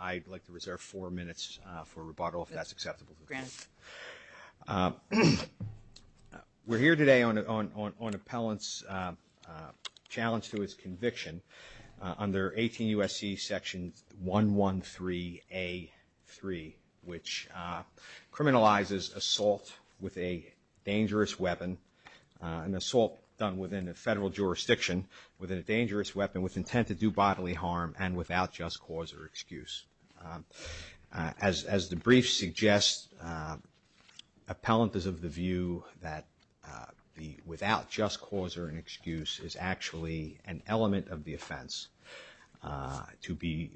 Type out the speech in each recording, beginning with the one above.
I'd like to reserve four minutes for rebuttal if that's acceptable to the Court. We're here today on Appellant's challenge to his conviction under 18 U.S.C. section 113A3, which criminalizes assault with a dangerous weapon, an assault done within a federal jurisdiction with a dangerous weapon with intent to do bodily harm and without just cause or excuse. As the brief suggests, Appellant is of the view that the without just cause or an excuse is actually an element of the offense to be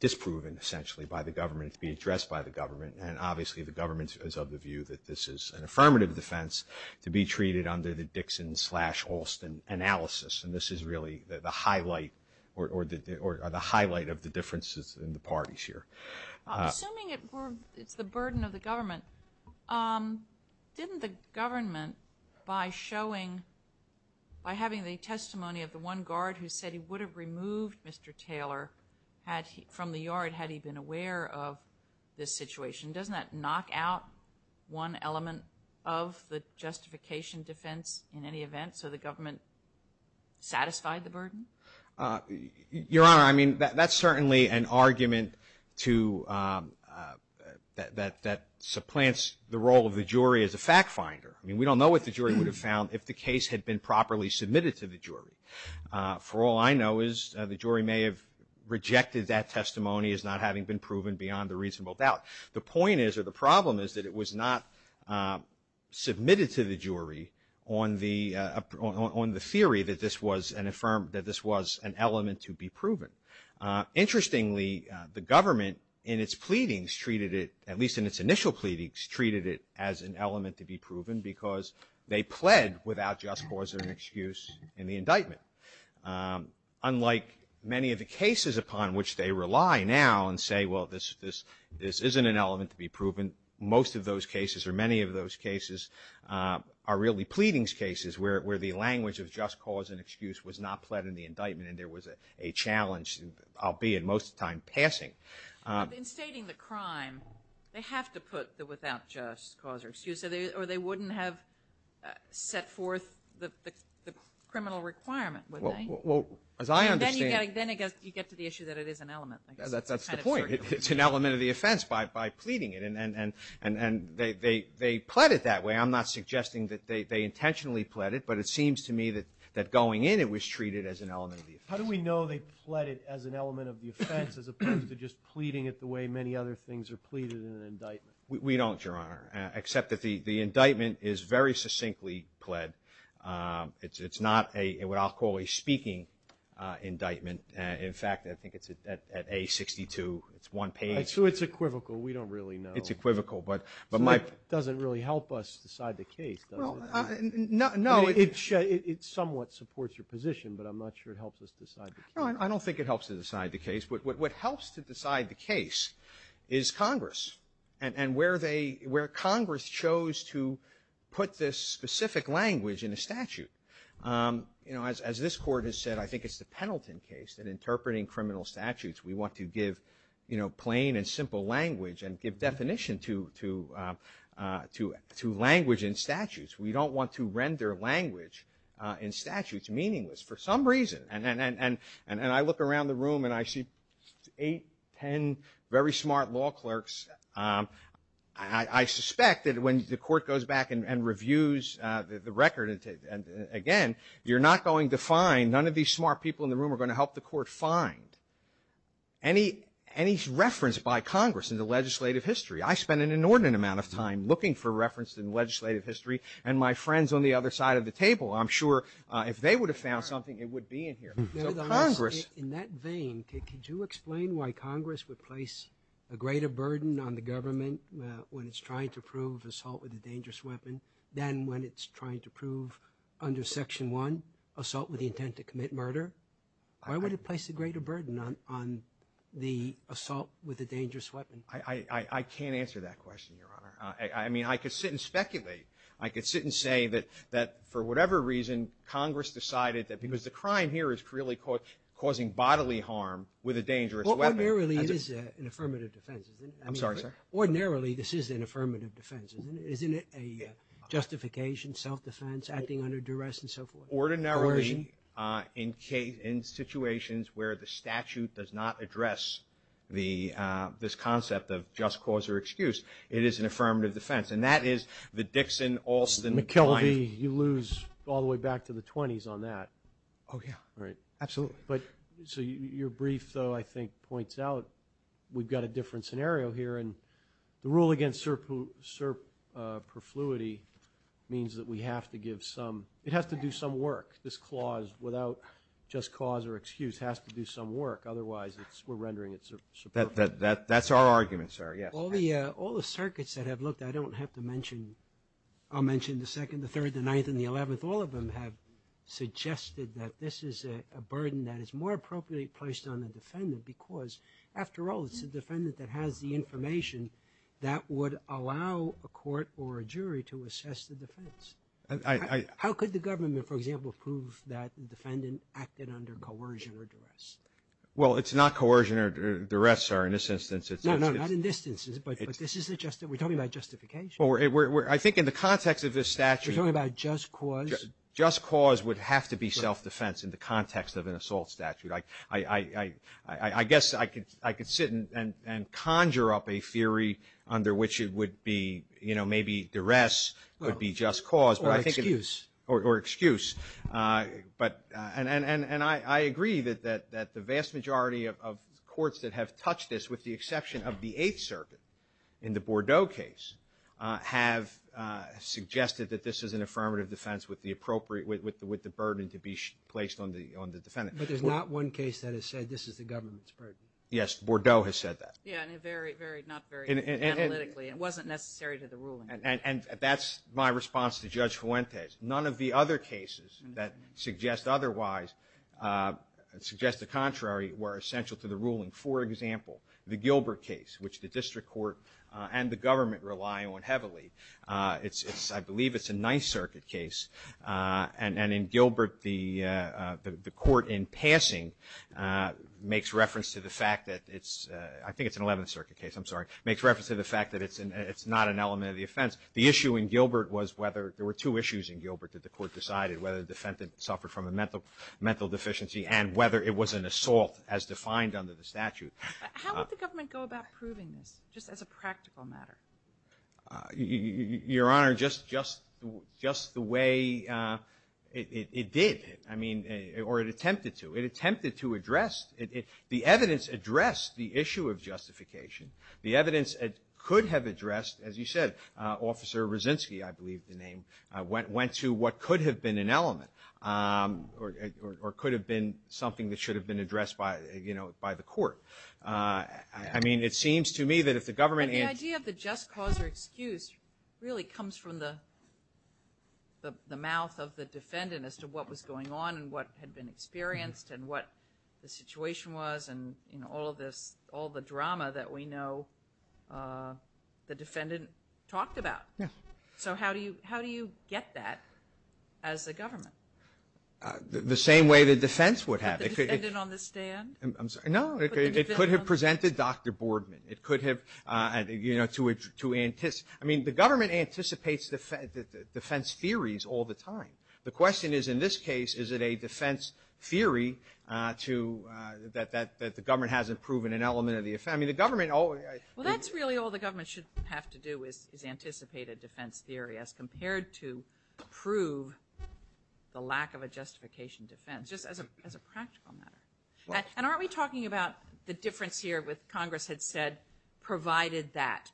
disproven essentially by the government, to be addressed by the government, and obviously the government is of the view that this is an affirmative defense to be treated under the Dixon slash Halston analysis, and this is really the highlight or the highlight of the differences in the parties here. I'm assuming it's the burden of the government. Didn't the government, by having the testimony of the one guard who said he would have removed Mr. Taylor from the yard had he been aware of this situation, doesn't that knock out one element of the justification defense in any event, so the government satisfied the burden? Your Honor, I mean, that's certainly an argument that supplants the role of the jury as a fact finder. I mean, we don't know what the jury would have found if the case had been properly submitted to the jury. For all I know is the jury may have rejected that testimony as not having been proven beyond the reasonable doubt. The point is or the problem is that it was not submitted to the jury on the theory that this was an element to be proven. Interestingly, the government in its pleadings treated it, at least in its initial pleadings, treated it as an element to be proven because they pled without just cause or an excuse in the indictment. Unlike many of the cases upon which they rely now and say, well, this isn't an element to be proven, most of those cases or many of those cases are really pleadings cases where the language of just cause and excuse was not pled in the indictment and there was a challenge, albeit most of the time, passing. In stating the crime, they have to put the without just cause or excuse or they wouldn't have set forth the criminal requirement, would they? Well, as I understand... And then you get to the issue that it is an element, I guess. That's the point. It's an element of the offense by pleading it and they pled it that way. I'm not suggesting that they intentionally pled it, but it seems to me that going in it was treated as an element of the offense. How do we know they pled it as an element of the offense as opposed to just pleading it the way many other things are pleaded in an indictment? We don't, Your Honor, except that the indictment is very succinctly pled. It's not what I'll call a speaking indictment. In fact, I think it's at A62. It's one page. So it's equivocal. We don't really know. It's equivocal. So it doesn't really help us decide the case, does it? Well, no. I mean, it somewhat supports your position, but I'm not sure it helps us decide the case. No, I don't think it helps us decide the case, but what helps to decide the case is Congress and where Congress chose to put this specific language in a statute. As this Court has said, I think it's the Pendleton case that interpreting criminal statutes, we want to give plain and simple language and give definition to language in statutes. We don't want to render language in statutes meaningless for some reason. And I look around the room and I see eight, ten very smart law clerks. I suspect that when the Court goes back and reviews the record, again, you're not going to find, none of these smart people in the room are going to help the Court find any reference by Congress in the legislative history. I spent an inordinate amount of time looking for reference in legislative history and my friends on the other side of the table, I'm sure if they would have found something, it would be in here. So Congress... In that vein, could you explain why Congress would place a greater burden on the government when it's trying to prove assault with a dangerous weapon than when it's trying to prove under Section 1, assault with the intent to commit murder? Why would it place a greater burden on the assault with a dangerous weapon? I can't answer that question, Your Honor. I mean, I could sit and speculate. I could sit and say that for whatever reason, Congress decided that because the crime here is really causing bodily harm with a dangerous weapon... Ordinarily, it is an affirmative defense, isn't it? I'm sorry, sir? Ordinarily, this is an affirmative defense, isn't it? Justification, self-defense, acting under duress, and so forth. Ordinarily, in situations where the statute does not address this concept of just cause or excuse, it is an affirmative defense. And that is the Dixon, Alston... McKelvey, you lose all the way back to the 20s on that. Oh, yeah. Absolutely. So your brief, though, I think points out we've got a different scenario here. And the rule against surperfluity means that we have to give some... It has to do some work. This clause, without just cause or excuse, has to do some work. Otherwise, we're rendering it surperfluity. That's our argument, sir. All the circuits that have looked, I don't have to mention... I'll mention the 2nd, the 3rd, the 9th, and the 11th. All of them have suggested that this is a burden that is more appropriately placed on the defendant, because, after all, it's the defendant that has the information that would allow a court or a jury to assess the defense. I... How could the government, for example, prove that the defendant acted under coercion or duress? Well, it's not coercion or duress, sir, in this instance. No, no, not in this instance. But this isn't just... We're talking about justification. I think in the context of this statute... You're talking about just cause? Just cause would have to be self-defense in the context of an assault statute. I guess I could sit and conjure up a theory under which it would be, you know, maybe duress could be just cause, but I think... Or excuse. Or excuse. But... And I agree that the vast majority of courts that have touched this, with the exception of the 8th Circuit in the Bordeaux case, have suggested that this is an affirmative defense with the appropriate... with the burden to be placed on the defendant. But there's not one case that has said, this is the government's burden. Yes, Bordeaux has said that. Yeah, and very, very, not very analytically. It wasn't necessary to the ruling. And that's my response to Judge Fuentes. None of the other cases that suggest otherwise, suggest the contrary, were essential to the ruling. For example, the Gilbert case, which the District Court and the government rely on heavily. It's... I believe it's a 9th Circuit case. And in Gilbert, the court in passing makes reference to the fact that it's... I think it's an 11th Circuit case. I'm sorry. Makes reference to the fact that it's not an element of the offense. The issue in Gilbert was whether... There were two issues in Gilbert that the court decided, whether the defendant suffered from a mental deficiency and whether it was an assault as defined under the statute. How would the government go about proving this, just as a practical matter? Your Honor, just the way it did. I mean, or it attempted to. It attempted to address... The evidence addressed the issue of justification. The evidence could have addressed, as you said, Officer Rosinsky, I believe the name, went to what could have been an element. Or could have been something that should have been addressed by the court. I mean, it seems to me that if the government... The idea of the just cause or excuse really comes from the mouth of the defendant as to what was going on and what had been experienced and what the situation was and all of this, all the drama that we know the defendant talked about. Yeah. So how do you get that as the government? The same way the defense would have. Put the defendant on the stand? I'm sorry. No, it could have presented Dr. Boardman. I mean, the government anticipates defense theories all the time. The question is in this case, is it a defense theory that the government hasn't proven an element of the offense? Well, that's really all the government should have to do is anticipate a defense theory as compared to prove the lack of a justification defense, just as a practical matter. And aren't we talking about the difference here with Congress had said provided that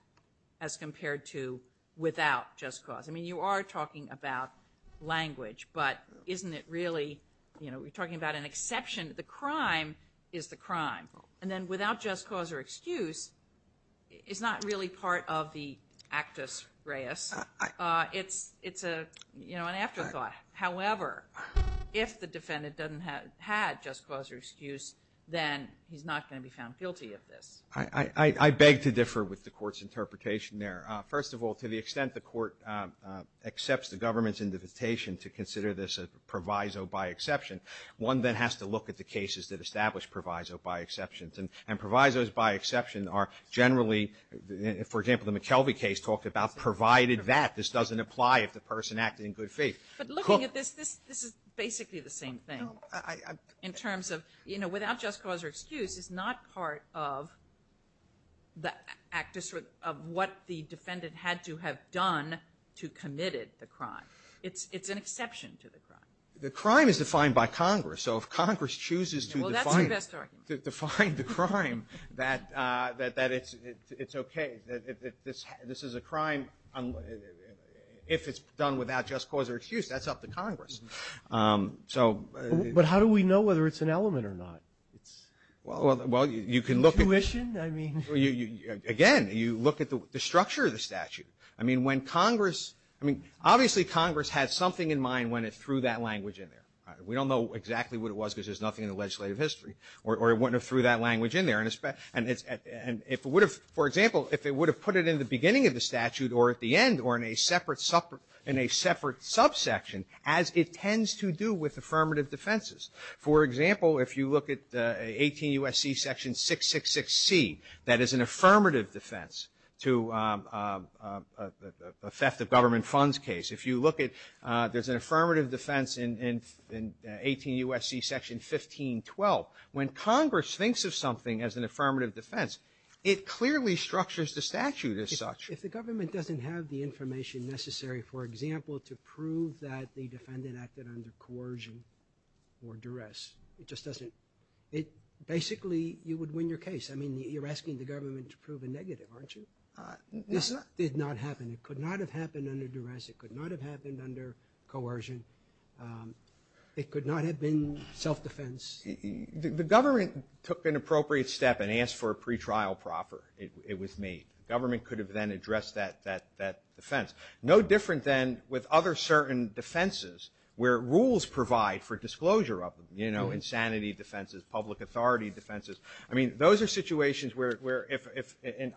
as compared to without just cause? I mean, you are talking about language, but isn't it really... We're talking about an exception. The crime is the crime. And then without just cause or excuse is not really part of the actus reus. It's an afterthought. However, if the defendant doesn't have just cause or excuse, then he's not going to be found guilty of this. I beg to differ with the court's interpretation there. First of all, to the extent the court accepts the government's invitation to consider this a proviso by exception, one then has to look at the cases that establish proviso by exception. And provisos by exception are generally, for example, the McKelvey case talked about provided that this doesn't apply if the person acted in good faith. But looking at this, this is basically the same thing. In terms of without just cause or excuse is not part of what the defendant had to have done to commit the crime. It's an exception to the crime. The crime is defined by Congress. So if Congress chooses to define the crime, that it's okay. This is a crime. If it's done without just cause or excuse, that's up to Congress. So... But how do we know whether it's an element or not? Well, you can look at... Tuition? Again, you look at the structure of the statute. I mean, when Congress... Obviously, Congress had something in mind when it threw that language in there. We don't know exactly what it was because there's nothing in the legislative history. Or when it threw that language in there. And if it would have, for example, if it would have put it in the beginning of the statute or at the end or in a separate subsection, as it tends to do with affirmative defenses. For example, if you look at 18 U.S.C. section 666C, that is an affirmative defense to a theft of government funds case. If you look at... There's an affirmative defense in 18 U.S.C. section 1512. When Congress thinks of something as an affirmative defense, it clearly structures the statute as such. If the government doesn't have the information necessary, for example, to prove that the defendant acted under coercion or duress, it just doesn't... Basically, you would win your case. I mean, you're asking the government to prove a negative, aren't you? This did not happen. It could not have happened under duress. It could not have happened under coercion. It could not have been self-defense. The government took an appropriate step and asked for a pretrial proffer. It was made. The government could have then addressed that defense. No different than with other certain defenses where rules provide for disclosure of them, you know, insanity defenses, public authority defenses. I mean, those are situations where,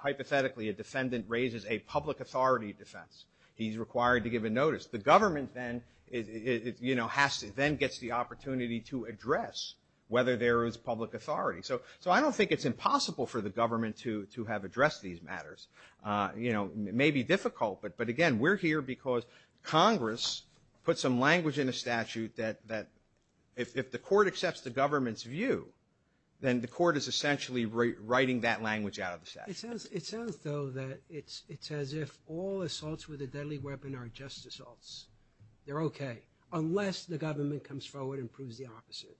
hypothetically, a defendant raises a public authority defense. He's required to give a notice. The government then gets the opportunity to address So I don't think it's impossible for the government to have addressed these matters. You know, it may be difficult, but again, we're here because Congress put some language in the statute that if the court accepts the government's view, then the court is essentially writing that language out of the statute. It sounds, though, that it's as if all assaults with a deadly weapon are just assaults. They're okay. Unless the government comes forward and proves the opposite.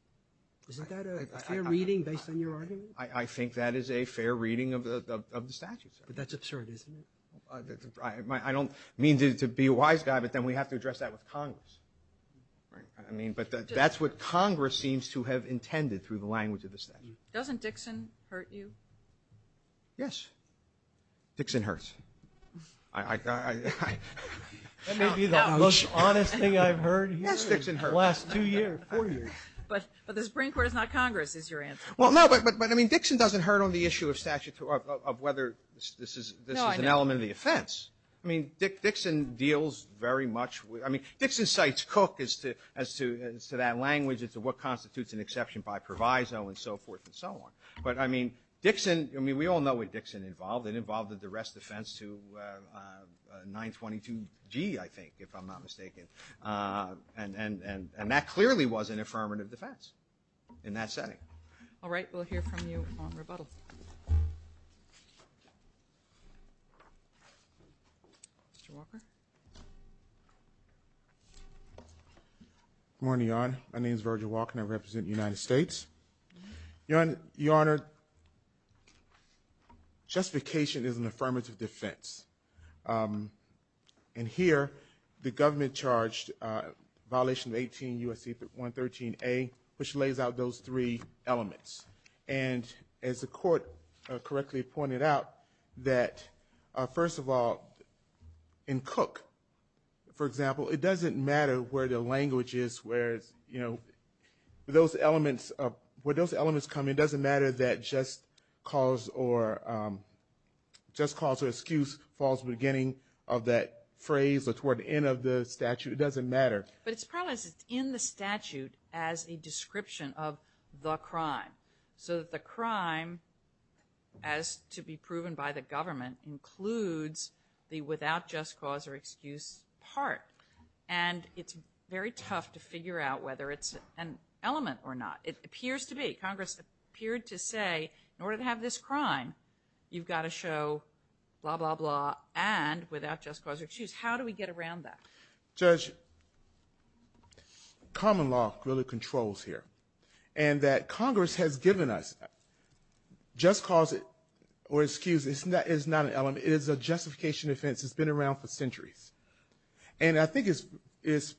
Isn't that a fair reading based on your argument? I think that is a fair reading of the statute. But that's absurd, isn't it? I don't mean to be a wise guy, but then we have to address that with Congress. Right. But that's what Congress seems to have intended through the language of the statute. Doesn't Dixon hurt you? Yes. Dixon hurts. I... That may be the most honest thing I've heard in the last two years, four years. But the Supreme Court is not Congress, is your answer. Well, no, but I mean, Dixon doesn't hurt on the issue of whether this is an element of the offense. No, I know. I mean, Dixon deals very much with... I mean, Dixon cites Cook as to that language as to what constitutes an exception by proviso and so forth and so on. But, I mean, Dixon... I mean, we all know what Dixon involved. It involved a duress defense to 922G, I think, if I'm not mistaken. And that clearly was an affirmative defense in that setting. All right, we'll hear from you on rebuttal. Mr. Walker? Good morning, Your Honor. My name's Virgil Walker, and I represent the United States. Your Honor... Justification is an affirmative defense. And here, the government charged violation of 18 U.S.C. 113A, which lays out those three elements. And as the Court correctly pointed out, that, first of all, in Cook, for example, it doesn't matter where the language is, where those elements come in, it doesn't matter that just cause or excuse falls at the beginning of that phrase or toward the end of the statute. It doesn't matter. But it's probably in the statute as a description of the crime. So that the crime, as to be proven by the government, includes the without just cause or excuse part. And it's very tough to figure out whether it's an element or not. It appears to be. Congress appeared to say, in order to have this crime, you've got to show blah, blah, blah and without just cause or excuse. How do we get around that? Judge, common law really controls here. And that Congress has given us just cause or excuse is not an element. It is a justification offense. It's been around for centuries. And I think it's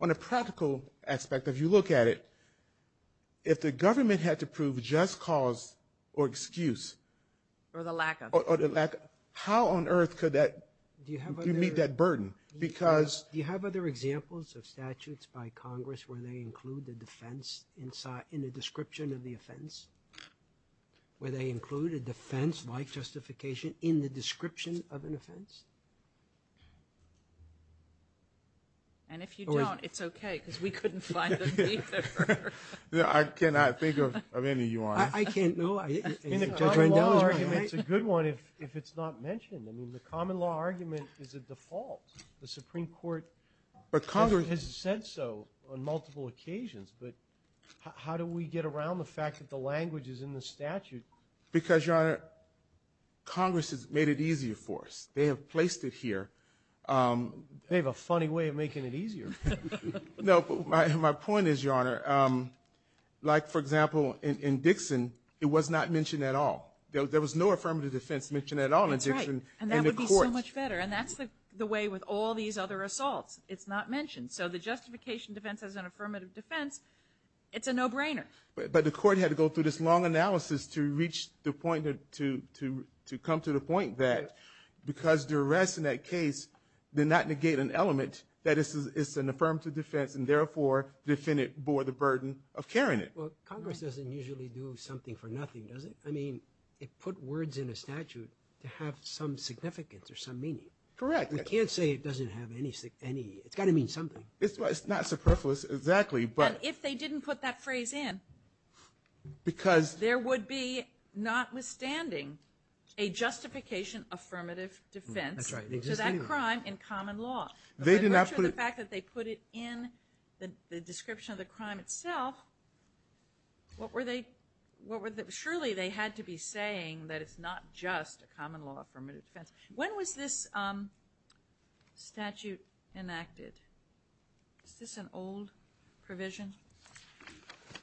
on a practical aspect, if you look at it, if the government had to prove just cause or excuse, or the lack of, how on earth could that meet that burden? Do you have other examples of statutes by Congress where they include the defense in the description of the offense? Where they include a defense like justification in the description of an offense? And if you don't, it's okay, because we couldn't find them either. I cannot think of any, Your Honor. I can't, no. In the common law argument, it's a good one if it's not mentioned. The common law argument is a default. The Supreme Court has said so on multiple occasions, but how do we get around the fact that the language is in the statute? Because, Your Honor, Congress has made it easier for us. They have placed it here. They have a funny way of making it easier. No, but my point is, Your Honor, like, for example, in Dixon, it was not mentioned at all. There was no affirmative defense mentioned at all in Dixon in the court. And that would be so much better. And that's the way with all these other assaults. It's not mentioned. So the justification defense as an affirmative defense, it's a no-brainer. But the court had to go through this long analysis to come to the point that because the arrest in that case did not negate an element that it's an affirmative defense and therefore the defendant bore the burden of carrying it. Well, Congress doesn't usually do something for nothing, does it? I mean, it put words in a statute to have some significance or some meaning. Correct. We can't say it doesn't have any... It's got to mean something. It's not superfluous, exactly, but... And if they didn't put that phrase in, there would be, notwithstanding, a justification affirmative defense to that crime in common law. They did not put... But the fact that they put it in the description of the crime itself, what were they... Surely they had to be saying that it's not just a common law affirmative defense. When was this statute enacted? Is this an old provision?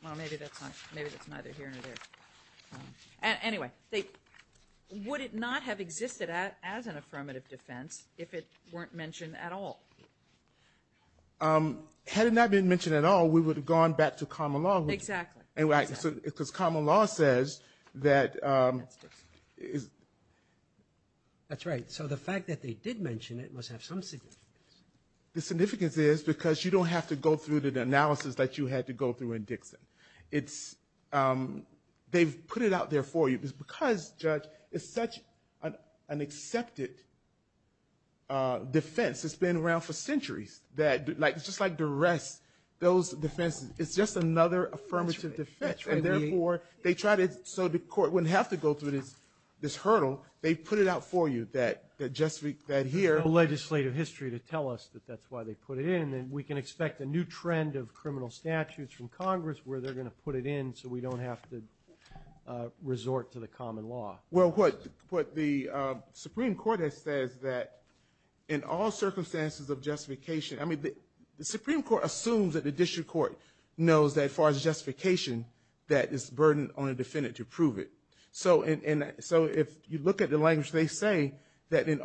Well, maybe that's not... Maybe that's neither here nor there. Anyway, would it not have existed as an affirmative defense if it weren't mentioned at all? Had it not been mentioned at all, we would have gone back to common law. Exactly. Because common law says that... That's Dixon. That's right. So the fact that they did mention it must have some significance. The significance is because you don't have to go through the analysis that you had to go through in Dixon. They've put it out there for you because, Judge, it's such an accepted defense. It's been around for centuries. It's just like the rest. It's just another affirmative defense. That's right. So the court wouldn't have to go through this hurdle. They put it out for you. No legislative history to tell us that that's why they put it in. We can expect a new trend of criminal statutes from Congress where they're going to put it in so we don't have to resort to the common law. What the Supreme Court has said is that in all circumstances of justification... The Supreme Court assumes that the district court knows that as far as justification that it's a burden on the defendant to prove it. So if you look at the language they say that in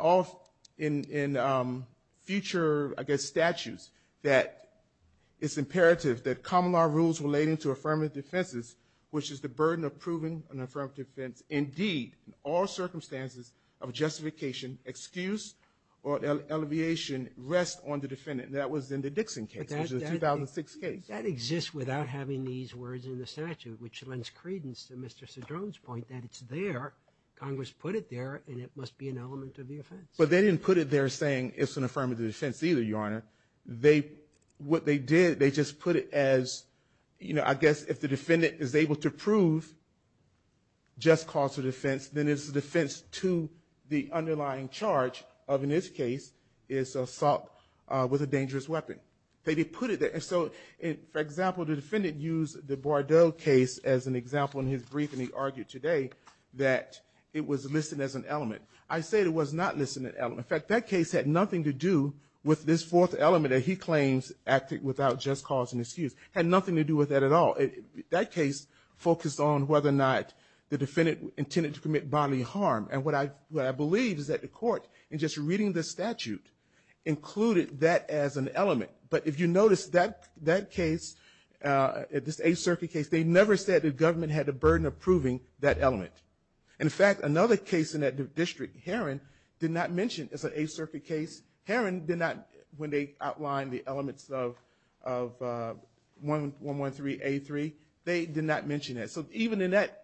future, I guess, statutes that it's imperative that common law rules relating to affirmative defenses, which is the burden of proving an affirmative defense. Indeed, in all circumstances of justification, excuse or alleviation rests on the defendant. That was in the Dixon case, which is a 2006 case. That exists without having these words in the statute, which lends credence to Mr. Cedrone's point that it's there. Congress put it there and it must be an element of the offense. But they didn't put it there saying it's an affirmative defense either, Your Honor. What they did, they just put it as, I guess, if the defendant is able to prove just cause of defense, then it's the defense to the underlying charge of, in this case, assault with a dangerous weapon. For example, the defendant used the Bordeaux case as an example in his brief and he argued today that it was listed as an element. I say it was not listed as an element. In fact, that case had nothing to do with this fourth element that he claims acted without just cause and excuse. It had nothing to do with that at all. That case focused on whether or not the defendant intended to commit bodily harm. And what I believe is that the court, in just reading the statute, included that as an element. But if you notice that case, this Eighth Circuit case, they never said the government had the burden of proving that element. In fact, another case in that district, Heron, did not mention, it's an Eighth Circuit case, when they outlined the elements of 113A3, they did not mention that. So even in that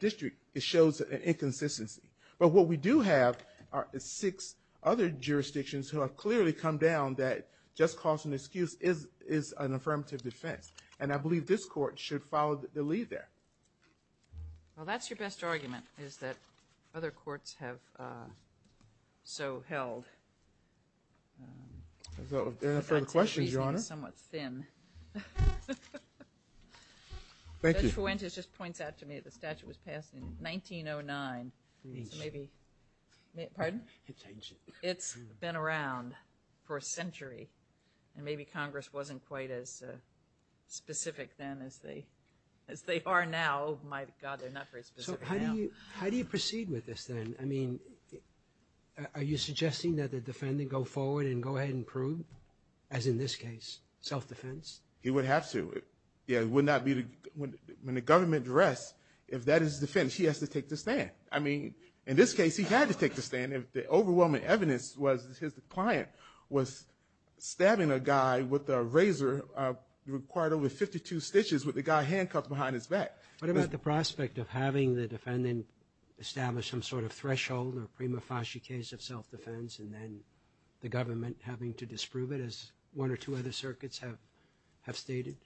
district, it shows an inconsistency. But what we do have are six other jurisdictions who have clearly come down that just cause and excuse is an affirmative defense. And I believe this court should follow the lead there. Well, that's your best argument, is that other courts have so held. Is there any further questions, Your Honor? Thank you. Judge Fuentes just points out to me that the statute was passed in 1909. Pardon? It's been around for a century. And maybe Congress wasn't quite as specific then as they are now. My God, they're not very specific now. How do you proceed with this then? Are you suggesting that the defendant go forward and go ahead and prove as in this case, self-defense? He would have to. When the government arrests, if that is defense, he has to take the stand. In this case, he had to take the stand. The overwhelming evidence was his client was stabbing a guy with a razor, required over 52 stitches with the guy handcuffed behind his back. What about the prospect of having the defendant establish some sort of threshold or prima facie case of self-defense and then the government having to disprove it as one or two other circuits have stated?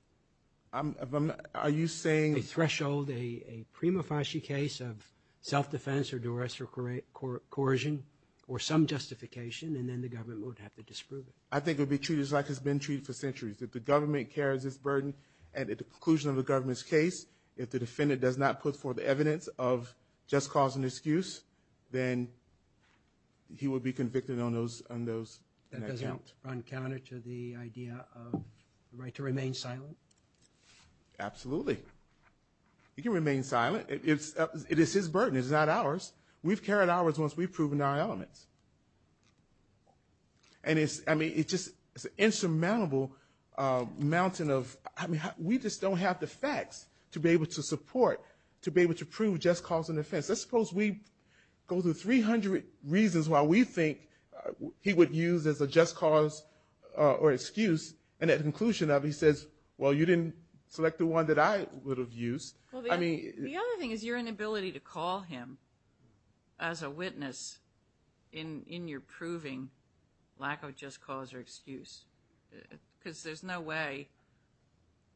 Are you saying... A threshold, a prima facie case of self-defense or duress or coercion or some justification and then the government would have to disprove it? I think it would be treated like it's been treated for centuries. If the government carries this burden and at the conclusion of the government's case, if the defendant does not put forth the evidence of just cause and excuse, then he would be convicted on those... That doesn't run counter to the idea of the right to remain silent? Absolutely. He can remain silent. It is his burden. It is not ours. We've carried ours once we've proven our elements. And it's... It's an insurmountable mountain of... We just don't have the facts to be able to support, to be able to prove just cause and offense. Let's suppose we go through 300 reasons why we think he would use as a just cause or excuse and at the conclusion of it he says, well, you didn't select the one that I would have used. The other thing is your inability to call him as a witness in your proving lack of just cause or excuse because there's no way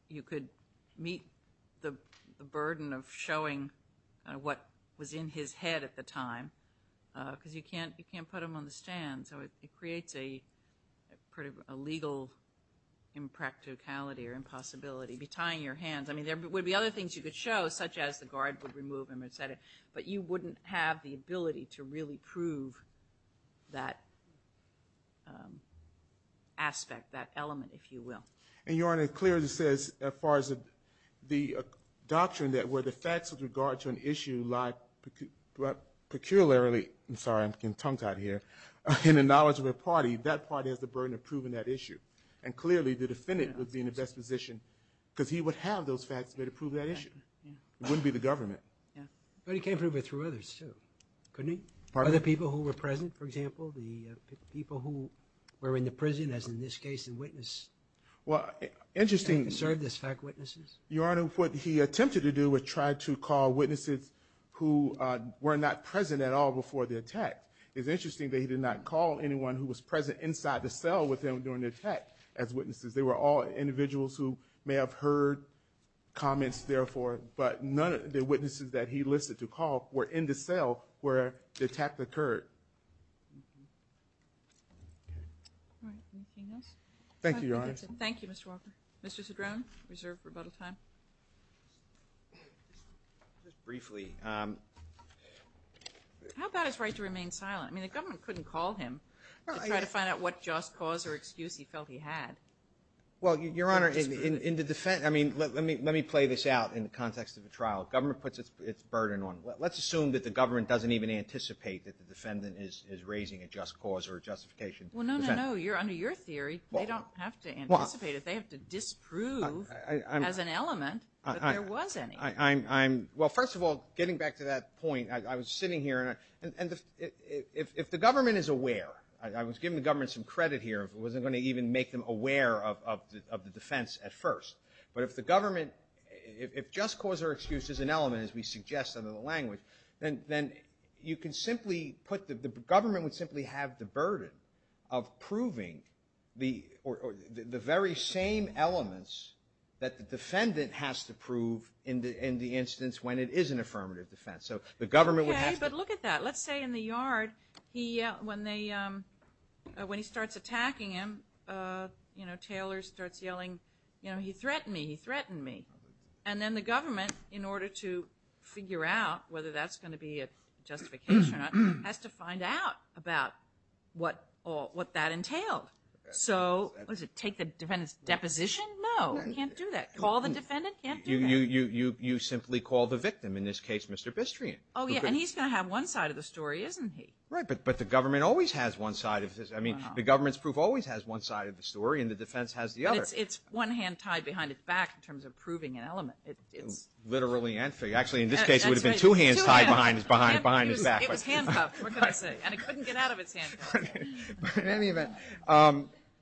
you could meet the burden of showing what was in his head at the time because you can't put him on the stand so it creates a legal impracticality or impossibility. I mean, there would be other things you could show such as the guard would remove him but you wouldn't have the ability to really prove that aspect, that element, if you will. And Your Honor, it clearly says as far as the doctrine that where the facts with regard to an issue lie peculiarly in the knowledge of a party, that party has the burden of proving that issue. And clearly the defendant would be in the best position because he would have those facts there to prove that issue. It wouldn't be the government. But he can't prove it through others, too. Couldn't he? Other people who were present, for example, the people who were in the prison, as in this case, and witnessed, served as fact witnesses? Your Honor, what he attempted to do was try to call witnesses who were not present at all before the attack. It's interesting that he did not call anyone who was present inside the cell with him during the attack as witnesses. They were all individuals who may have heard comments, therefore, but none of the witnesses that he listed to call were in the cell where the attack occurred. Thank you, Your Honor. Thank you, Mr. Walker. Mr. Cedrone, reserve rebuttal time. Just briefly. How about his right to remain silent? I mean, the government couldn't call him to try to find out what just cause or excuse he felt he had. Well, Your Honor, in the defense I mean, let me play this out in the context of a trial. Government puts its burden on. Let's assume that the government doesn't even anticipate that the defendant is raising a just cause or justification. Well, no, no, no. Under your theory, they don't have to anticipate it. They have to disprove as an element that there was any. Well, first of all, getting back to that point, I was sitting here and if the government is aware, I was giving the government some credit here. I wasn't going to even make them aware of the defense at first. But if the government, if just cause or excuse is an element, as we suggest under the language, then you can simply put the government would simply have the burden of proving the very same elements that the defendant has to prove in the instance when it is an affirmative defense. Okay, but look at that. Let's say in the yard, when he starts attacking him, Taylor starts yelling, he threatened me, he threatened me. And then the government, in order to figure out whether that's going to be a justification or not, has to find out about what that entailed. So, what is it, take the defendant's deposition? No, you can't do that. Call the defendant? Can't do that. No, you simply call the victim. In this case, Mr. Bistrian. Oh yeah, and he's going to have one side of the story, isn't he? Right, but the government always has one side of his, I mean, the government's proof always has one side of the story and the defense has the other. It's one hand tied behind its back in terms of proving an element. Literally and figuratively. Actually, in this case, it would have been two hands tied behind its back. It was handcuffed, what can I say? And it couldn't get out of its handcuffs. In any event,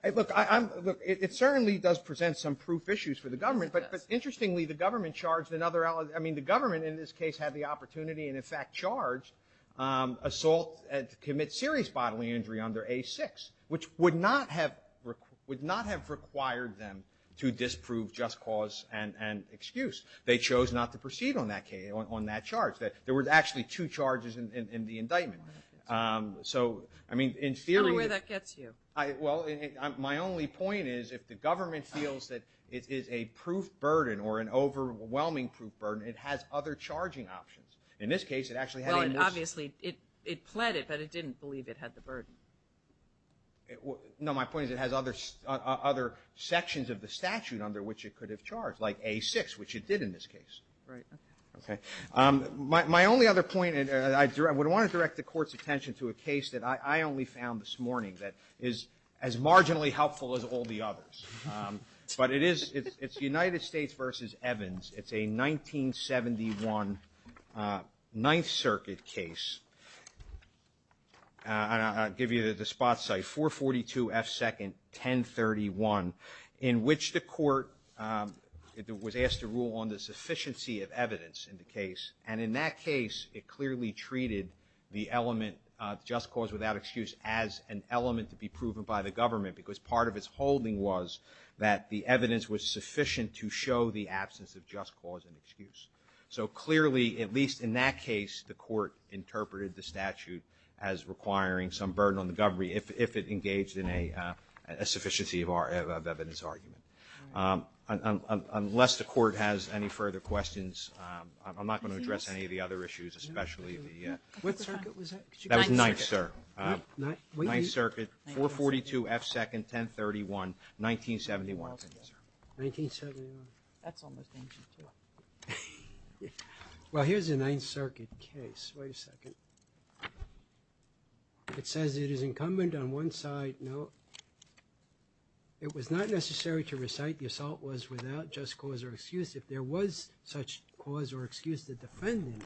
it certainly does present some proof issues for the government, but interestingly, the government charged another, I mean, the government in this case had the opportunity and in fact charged Assault to commit serious bodily injury under A6, which would not have required them to disprove just cause and excuse. They chose not to proceed on that charge. There were actually two charges in the indictment. I mean, in theory... I don't know where that gets you. Well, my only point is if the government feels that it is a proof burden or an overwhelming proof burden, it has other charging options. In this case, it actually had... Well, obviously, it pled it, but it didn't believe it had the burden. No, my point is it has other sections of the statute under which it could have charged, like A6, which it did in this case. Right. Okay. My only other point, and I would want to direct the court's attention to a case that I only found this morning that is as marginally helpful as all the others. But it is... It's United States v. Evans. It's a 1971 Ninth Circuit case. And I'll give you the spot site, 442 F. 2nd 1031, in which the court was asked to rule on the sufficiency of evidence in the case. And in that case, it clearly treated the element, just cause without excuse, as an element to be proven by the government, because part of its holding was that the evidence was sufficient to show the absence of just cause and excuse. So clearly, at least in that case, the court interpreted the statute as requiring some burden on the government if it engaged in a sufficiency of evidence argument. Unless the court has any further questions, I'm not going to address any of the other issues, especially the... Ninth Circuit, 442 F. 2nd, 1031, 1971. That's almost ancient, too. Well, here's a Ninth Circuit case. Wait a second. It says it is incumbent on one side... It was not necessary to recite the assault was without just cause or excuse. If there was such cause or excuse, the defendant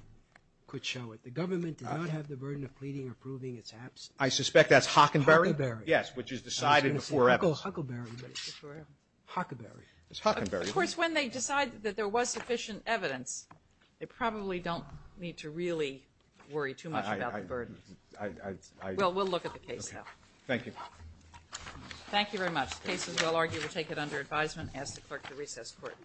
could show it. The government did not have the burden of pleading or proving its absence. I suspect that's Hockenberry? Hockenberry. Yes, which is decided before evidence. Hockenberry. Of course, when they decide that there was sufficient evidence, they probably don't need to really worry too much about the burden. Well, we'll look at the case, though. Thank you. Thank you very much. The case is well argued. We'll take it under advisement. I ask the Clerk to recess the Court.